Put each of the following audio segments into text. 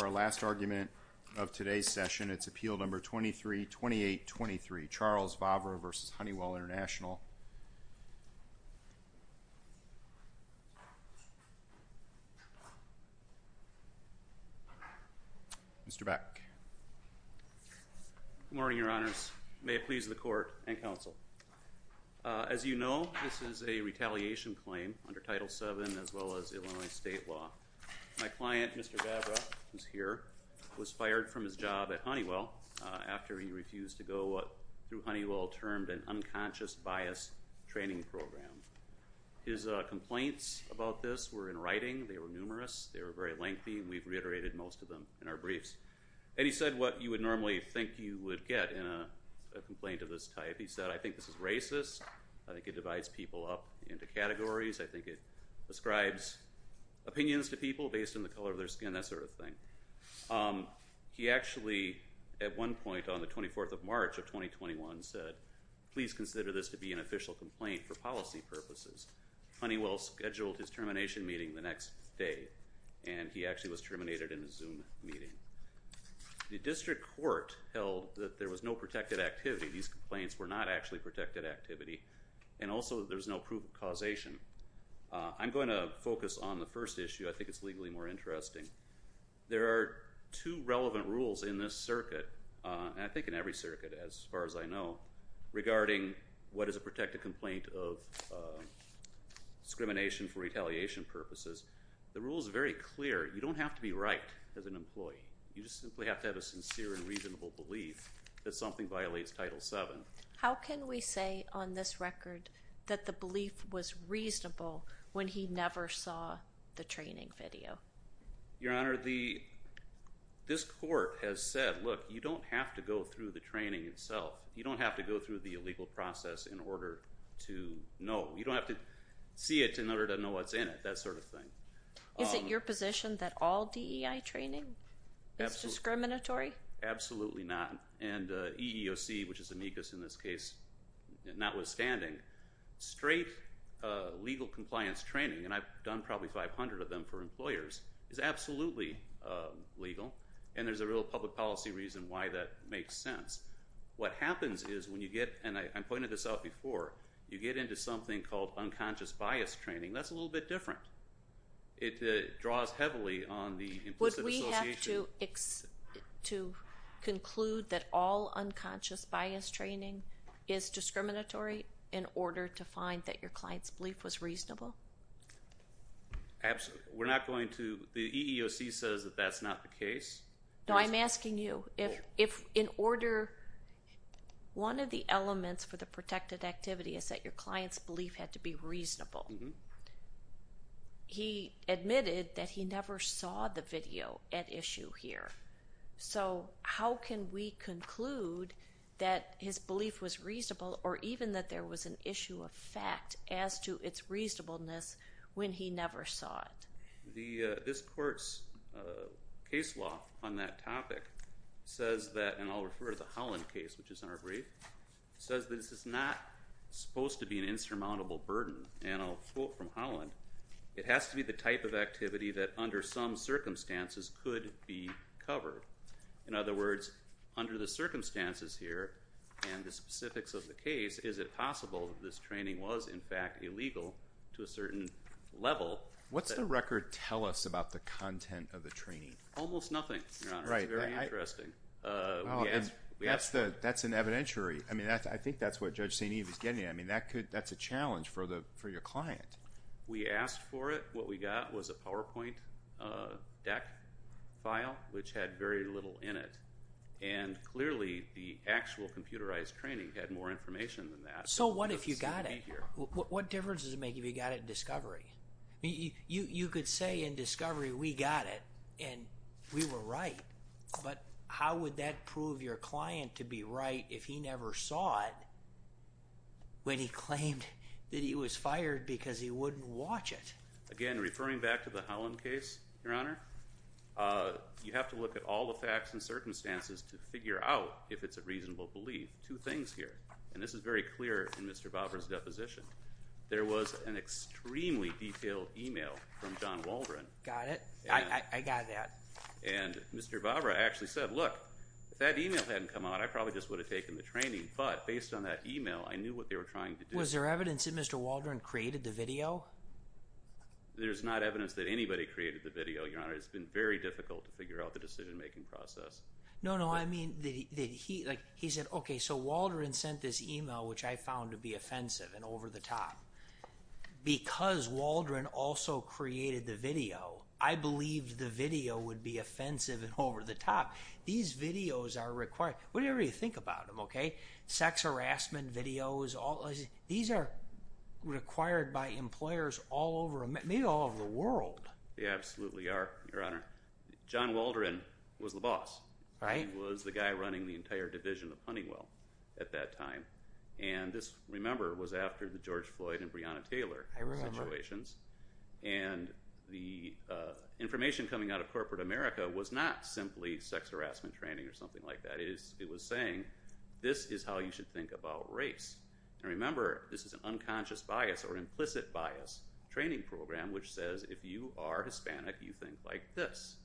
Our last argument of today's session, it's Appeal No. 232823, Charles Vavra v. Honeywell International. Mr. Back. Good morning, Your Honors. May it please the Court and Counsel. As you know, this is a retaliation claim under Title VII as well as Illinois state law. My client, Mr. Vavra, who's here, was fired from his job at Honeywell after he refused to go through Honeywell-termed an unconscious bias training program. His complaints about this were in writing. They were numerous. They were very lengthy, and we've reiterated most of them in our briefs. And he said what you would normally think you would get in a complaint of this type. He said, I think this is racist. I think it divides people up into categories. I think it ascribes opinions to people based on the color of their skin, that sort of thing. He actually, at one point on the 24th of March of 2021, said, please consider this to be an official complaint for policy purposes. Honeywell scheduled his termination meeting the next day, and he actually was terminated in a Zoom meeting. The district court held that there was no protected activity. These complaints were not actually protected activity. And also, there's no proof of causation. I'm going to focus on the first issue. I think it's legally more interesting. There are two relevant rules in this circuit, and I think in every circuit as far as I know, regarding what is a protected complaint of discrimination for retaliation purposes. The rule is very clear. You don't have to be right as an employee. You just simply have to have a sincere and reasonable belief that something violates Title VII. How can we say on this record that the belief was reasonable when he never saw the training video? Your Honor, this court has said, look, you don't have to go through the training itself. You don't have to go through the illegal process in order to know. You don't have to see it in order to know what's in it, that sort of thing. Is it your position that all DEI training is discriminatory? Absolutely not. And EEOC, which is amicus in this case, notwithstanding, straight legal compliance training, and I've done probably 500 of them for employers, is absolutely legal, and there's a real public policy reason why that makes sense. What happens is when you get, and I pointed this out before, you get into something called unconscious bias training, that's a little bit different. It draws heavily on the implicit association. Is it your position to conclude that all unconscious bias training is discriminatory in order to find that your client's belief was reasonable? Absolutely. We're not going to, the EEOC says that that's not the case. No, I'm asking you, if in order, one of the elements for the protected activity is that your client's belief had to be reasonable. He admitted that he never saw the video at issue here, so how can we conclude that his belief was reasonable, or even that there was an issue of fact as to its reasonableness when he never saw it? This court's case law on that topic says that, and I'll refer to the Holland case, which is a quote from Holland, it has to be the type of activity that under some circumstances could be covered. In other words, under the circumstances here, and the specifics of the case, is it possible that this training was, in fact, illegal to a certain level? What's the record tell us about the content of the training? Almost nothing, Your Honor, it's very interesting. That's an evidentiary, I mean, I think that's what Judge St. Eve is getting at, I mean, that's a challenge for your client. We asked for it, what we got was a PowerPoint deck file, which had very little in it, and clearly the actual computerized training had more information than that. So what if you got it? What difference does it make if you got it in discovery? You could say in discovery, we got it, and we were right, but how would that prove your when he claimed that he was fired because he wouldn't watch it? Again, referring back to the Holland case, Your Honor, you have to look at all the facts and circumstances to figure out if it's a reasonable belief. Two things here, and this is very clear in Mr. Barbara's deposition, there was an extremely detailed email from John Waldron. Got it, I got that. And Mr. Barbara actually said, look, if that email hadn't come out, I probably just would have taken the training, but based on that email, I knew what they were trying to do. Was there evidence that Mr. Waldron created the video? There's not evidence that anybody created the video, Your Honor, it's been very difficult to figure out the decision-making process. No, no, I mean, he said, okay, so Waldron sent this email, which I found to be offensive and over the top. Because Waldron also created the video, I believed the video would be offensive and over the top. These videos are required, whatever you think about them, okay, sex harassment videos, these are required by employers all over, maybe all over the world. They absolutely are, Your Honor. John Waldron was the boss. Right. He was the guy running the entire division of Honeywell at that time. And this, remember, was after the George Floyd and Breonna Taylor situations, and the information coming out of Corporate America was not simply sex harassment training or something like that. It was saying, this is how you should think about race. And remember, this is an unconscious bias or implicit bias training program, which says if you are Hispanic, you think like this.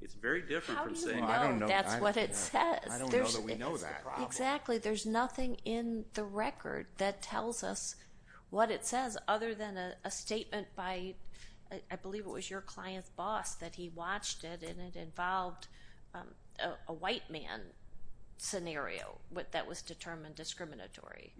It's very different from saying- How do you know that's what it says? I don't know that we know that. That's the problem. Exactly. There's nothing in the record that tells us what it says, other than a statement by, I think he watched it, and it involved a white man scenario that was determined discriminatory.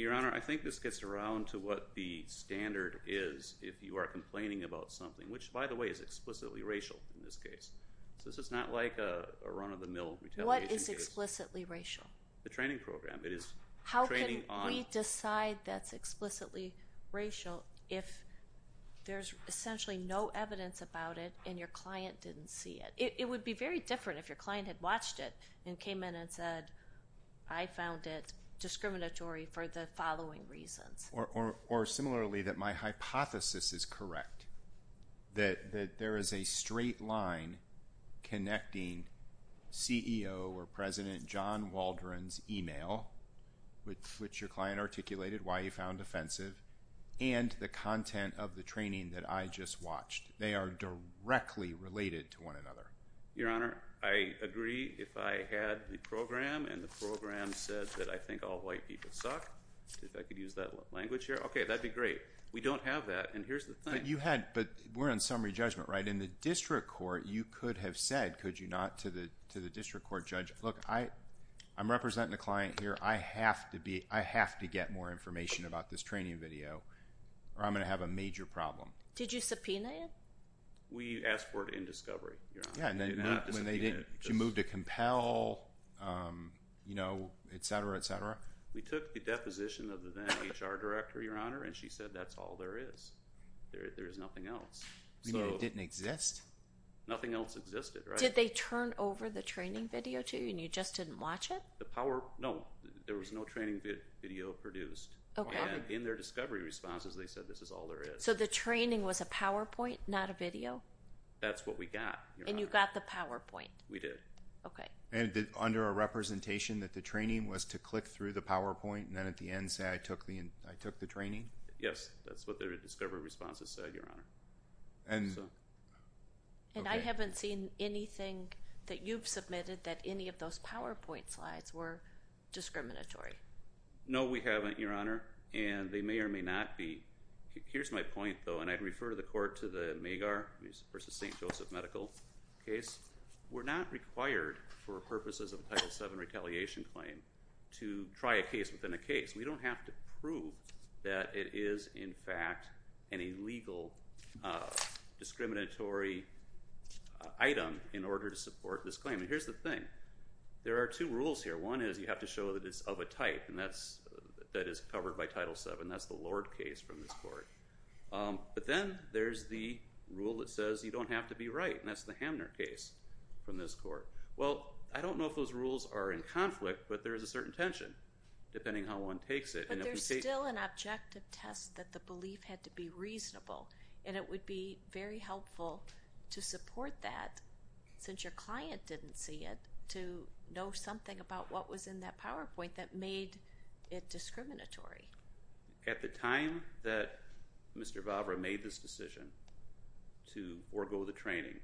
Your Honor, I think this gets around to what the standard is if you are complaining about something, which, by the way, is explicitly racial in this case. So this is not like a run-of-the-mill retaliation case. What is explicitly racial? The training program. It is training on- didn't see it. It would be very different if your client had watched it and came in and said, I found it discriminatory for the following reasons. Or similarly, that my hypothesis is correct, that there is a straight line connecting CEO or President John Waldron's email, which your client articulated why he found offensive, and the content of the training that I just watched. They are directly related to one another. Your Honor, I agree if I had the program and the program said that I think all white people suck, if I could use that language here. Okay, that'd be great. We don't have that, and here's the thing. You had, but we're on summary judgment, right? In the district court, you could have said, could you not, to the district court judge, look, I'm representing a client here. I have to be, I have to get more information about this training video, or I'm going to have a major problem. Did you subpoena it? We asked for it in discovery, Your Honor. Yeah, and then when they didn't, she moved to compel, you know, et cetera, et cetera. We took the deposition of the then HR director, Your Honor, and she said that's all there is. There is nothing else. You mean it didn't exist? Nothing else existed, right? Did they turn over the training video to you, and you just didn't watch it? The power, no. There was no training video produced, and in their discovery responses, they said this is all there is. So the training was a PowerPoint, not a video? That's what we got, Your Honor. And you got the PowerPoint? We did. Okay. And under a representation that the training was to click through the PowerPoint, and then at the end say I took the training? Yes, that's what their discovery responses said, Your Honor. And I haven't seen anything that you've submitted that any of those PowerPoint slides were discriminatory. No, we haven't, Your Honor. And they may or may not be. Here's my point, though, and I'd refer the court to the Magar v. St. Joseph medical case. We're not required for purposes of a Title VII retaliation claim to try a case within a case. We don't have to prove that it is, in fact, an illegal discriminatory item in order to support this claim. And here's the thing. There are two rules here. One is you have to show that it's of a type, and that is covered by Title VII. That's the Lord case from this court. But then there's the rule that says you don't have to be right, and that's the Hamner case from this court. Well, I don't know if those rules are in conflict, but there is a certain tension, depending how one takes it. But there's still an objective test that the belief had to be reasonable, and it would be very helpful to support that, since your client didn't see it, to know something about what was in that PowerPoint that made it discriminatory. At the time that Mr. Vavra made this decision to forego the training,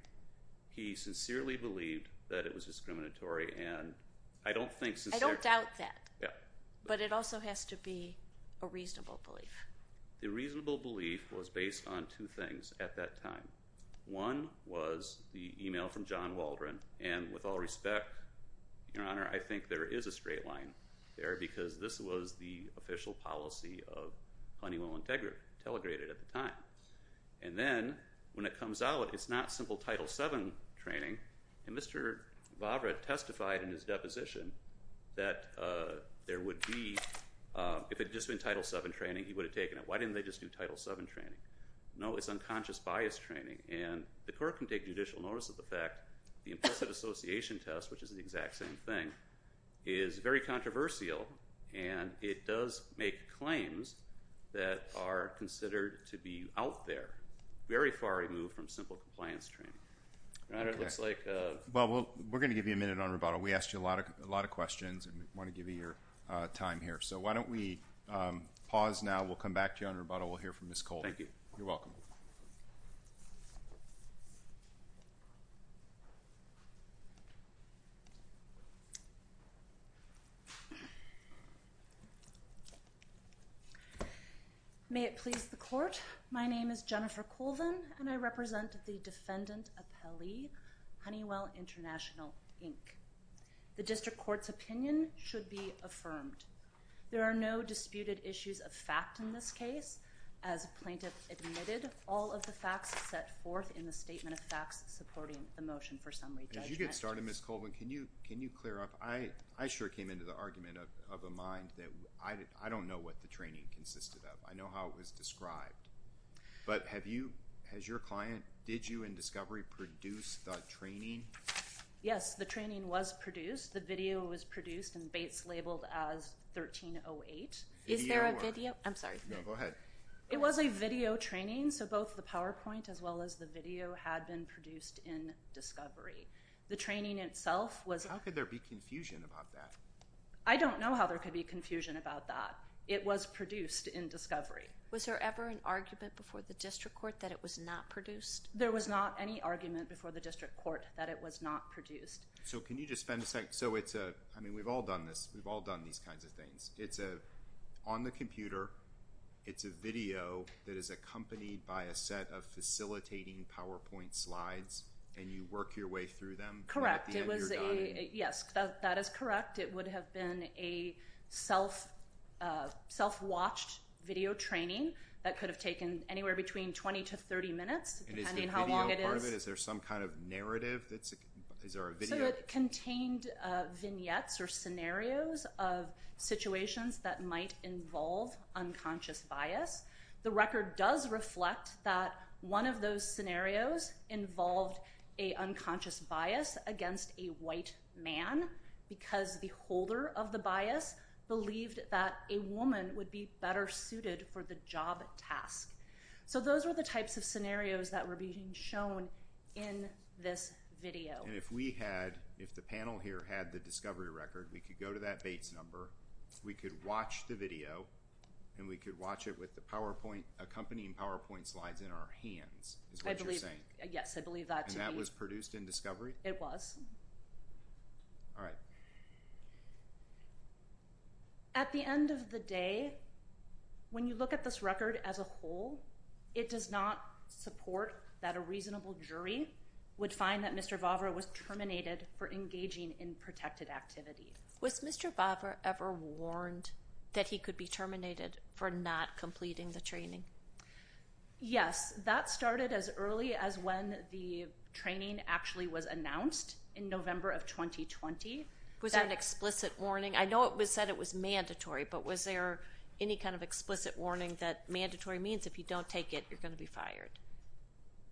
he sincerely believed that it was discriminatory, and I don't think since there... I don't doubt that. Yeah. But it also has to be a reasonable belief. The reasonable belief was based on two things at that time. One was the email from John Waldron, and with all respect, Your Honor, I think there is a straight line there, because this was the official policy of Honeywell Integrity, telegrated at the time. And then, when it comes out, it's not simple Title VII training, and Mr. Vavra testified in his deposition that there would be, if it had just been Title VII training, he would have taken it. Why didn't they just do Title VII training? No, it's unconscious bias training, and the court can take judicial notice of the fact, that the implicit association test, which is the exact same thing, is very controversial, and it does make claims that are considered to be out there, very far removed from simple compliance training. Your Honor, it looks like... Okay. Well, we're going to give you a minute on rebuttal. We asked you a lot of questions, and we want to give you your time here. So why don't we pause now, we'll come back to you on rebuttal, we'll hear from Ms. Colby. Thank you. You're welcome. May it please the Court, my name is Jennifer Colvin, and I represent the Defendant Appellee, Honeywell International, Inc. The District Court's opinion should be affirmed. There are no disputed issues of fact in this case. As a plaintiff admitted, all of the facts set forth in the Statement of Facts supporting the motion for summary judgment. As you get started, Ms. Colvin, can you clear up? I sure came into the argument of a mind that I don't know what the training consisted of. I know how it was described. But have you, has your client, did you in discovery produce the training? Yes, the training was produced. The video was produced and Bates labeled as 1308. Is there a video? I'm sorry. No, go ahead. It was a video training, so both the PowerPoint as well as the video had been produced in discovery. The training itself was- How could there be confusion about that? I don't know how there could be confusion about that. It was produced in discovery. Was there ever an argument before the District Court that it was not produced? There was not any argument before the District Court that it was not produced. So can you just spend a second, so it's a, I mean, we've all done this, we've all done these kinds of things. It's a, on the computer, it's a video that is accompanied by a set of facilitating PowerPoint slides and you work your way through them? Correct. It was a, yes, that is correct. It would have been a self-watched video training that could have taken anywhere between 20 to 30 minutes, depending how long it is. And is the video part of it? Is there some kind of narrative? Is there a video? So it contained vignettes or scenarios of situations that might involve unconscious bias. The record does reflect that one of those scenarios involved a unconscious bias against a white man because the holder of the bias believed that a woman would be better suited for the job task. So those were the types of scenarios that were being shown in this video. And if we had, if the panel here had the discovery record, we could go to that Bates number, we could watch the video, and we could watch it with the PowerPoint, accompanying PowerPoint slides in our hands, is what you're saying? Yes, I believe that to be. And that was produced in Discovery? It was. All right. So at the end of the day, when you look at this record as a whole, it does not support that a reasonable jury would find that Mr. Vavra was terminated for engaging in protected activity. Was Mr. Vavra ever warned that he could be terminated for not completing the training? Yes. That started as early as when the training actually was announced in November of 2020. Was there an explicit warning? I know it was said it was mandatory, but was there any kind of explicit warning that mandatory means if you don't take it, you're going to be fired?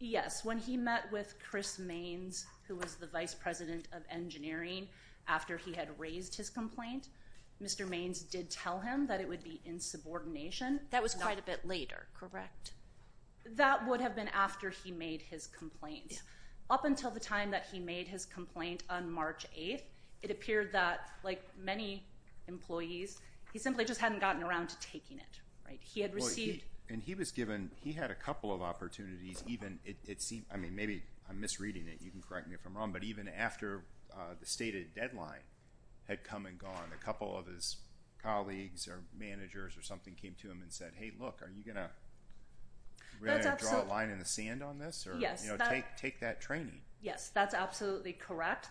Yes. When he met with Chris Maines, who was the vice president of engineering, after he had raised his complaint, Mr. Maines did tell him that it would be insubordination. That was quite a bit later, correct? That would have been after he made his complaint. Up until the time that he made his complaint on March 8th, it appeared that, like many employees, he simply just hadn't gotten around to taking it, right? He had received... And he was given... He had a couple of opportunities, even it seemed, I mean, maybe I'm misreading it, you can correct me if I'm wrong, but even after the stated deadline had come and gone, a couple of his colleagues or managers or something came to him and said, hey, look, are you going to draw a line in the sand on this or take that training? Yes, that's absolutely correct.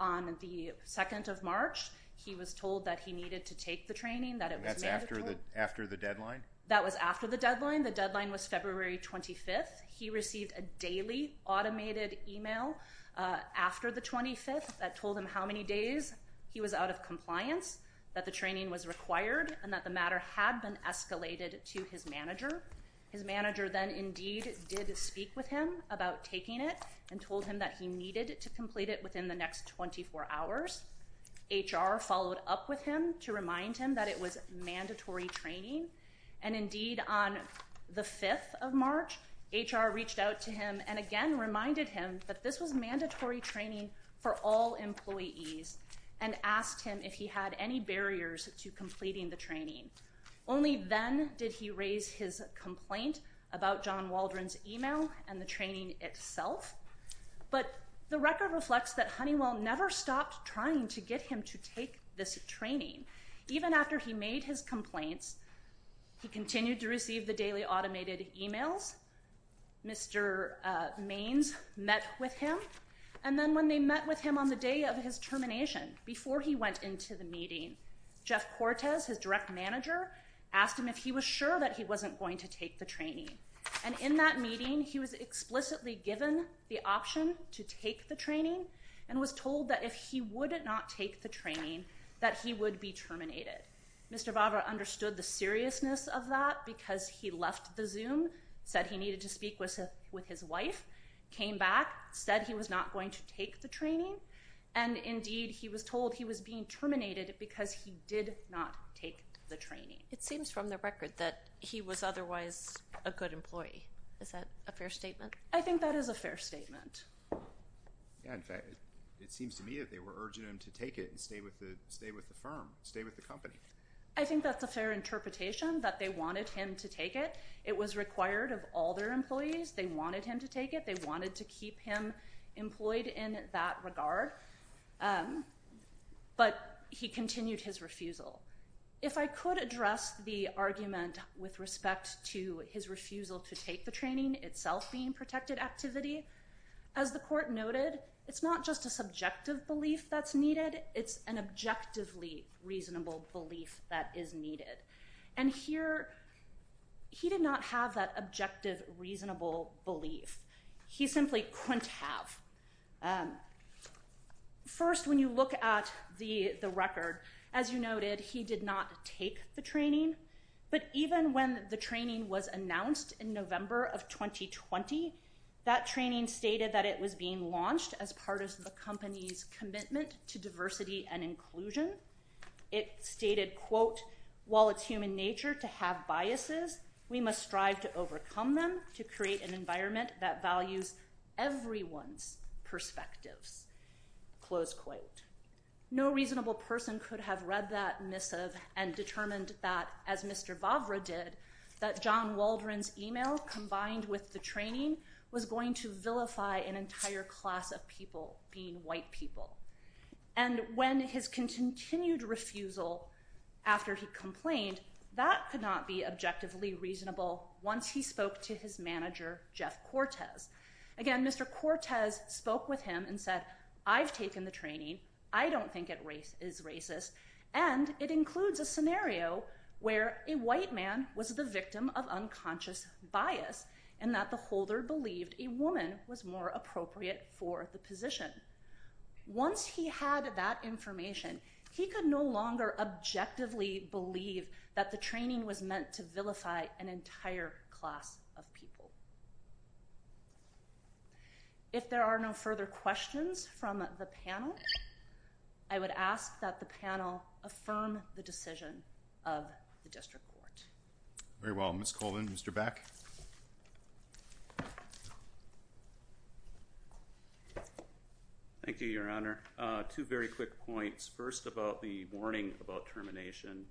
On the 2nd of March, he was told that he needed to take the training, that it was mandatory. After the deadline? That was after the deadline. The deadline was February 25th. He received a daily automated email after the 25th that told him how many days he was out of compliance, that the training was required, and that the matter had been escalated to his manager. His manager then indeed did speak with him about taking it and told him that he needed to complete it within the next 24 hours. HR followed up with him to remind him that it was mandatory training. And indeed, on the 5th of March, HR reached out to him and again reminded him that this was mandatory training for all employees and asked him if he had any barriers to completing the training. Only then did he raise his complaint about John Waldron's email and the training itself. But the record reflects that Honeywell never stopped trying to get him to take this training. Even after he made his complaints, he continued to receive the daily automated emails. Mr. Maines met with him, and then when they met with him on the day of his termination, before he went into the meeting, Jeff Cortes, his direct manager, asked him if he was sure that he wasn't going to take the training. And in that meeting, he was explicitly given the option to take the training and was told that if he would not take the training, that he would be terminated. Mr. Barbara understood the seriousness of that because he left the Zoom, said he needed to speak with his wife, came back, said he was not going to take the training, and indeed, he was told he was being terminated because he did not take the training. It seems from the record that he was otherwise a good employee. Is that a fair statement? I think that is a fair statement. Yeah, in fact, it seems to me that they were urging him to take it and stay with the firm, stay with the company. I think that's a fair interpretation, that they wanted him to take it. It was required of all their employees. They wanted him to take it. They wanted to keep him employed in that regard. But he continued his refusal. If I could address the argument with respect to his refusal to take the training, itself being protected activity, as the court noted, it's not just a subjective belief that's needed. It's an objectively reasonable belief that is needed. And here, he did not have that objective, reasonable belief. He simply couldn't have. First, when you look at the record, as you noted, he did not take the training. But even when the training was announced in November of 2020, that training stated that it was being launched as part of the company's commitment to diversity and inclusion. It stated, quote, while it's human nature to have biases, we must strive to overcome them to create an environment that values everyone's perspectives, close quote. No reasonable person could have read that missive and determined that, as Mr. Bavra did, that John Waldron's email, combined with the training, was going to vilify an entire class of people being white people. And when his continued refusal, after he complained, that could not be objectively reasonable once he spoke to his manager, Jeff Cortez. Again, Mr. Cortez spoke with him and said, I've taken the training. I don't think it is racist. And it includes a scenario where a white man was the victim of unconscious bias and that the holder believed a woman was more appropriate for the position. Once he had that information, he could no longer objectively believe that the training was meant to vilify an entire class of people. If there are no further questions from the panel, I would ask that the panel affirm the decision of the district court. Very well. Ms. Colvin, Mr. Back. Thank you, Your Honor. Two very quick points. First, about the warning about termination.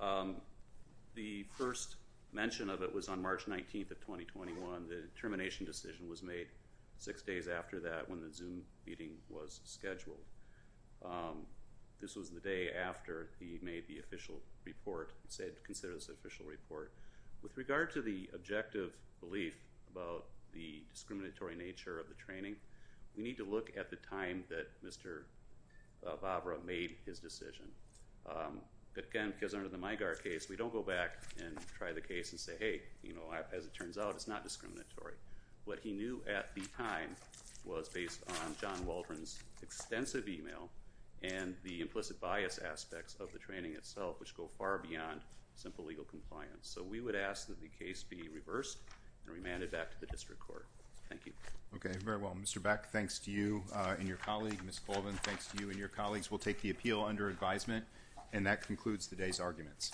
The first mention of it was on March 19th of 2021. The termination decision was made six days after that when the Zoom meeting was scheduled. This was the day after he made the official report, said to consider this official report. With regard to the objective belief about the discriminatory nature of the training, we need to look at the time that Mr. Bavra made his decision. Again, because under the Mygar case, we don't go back and try the case and say, hey, as it turns out, it's not discriminatory. What he knew at the time was based on John Waldron's extensive email and the implicit bias aspects of the training itself, which go far beyond simple legal compliance. So we would ask that the case be reversed and remanded back to the district court. Thank you. Okay. Very well. Mr. Back, thanks to you and your colleague. Ms. Colvin, thanks to you and your colleagues. We'll take the appeal under advisement. And that concludes today's arguments.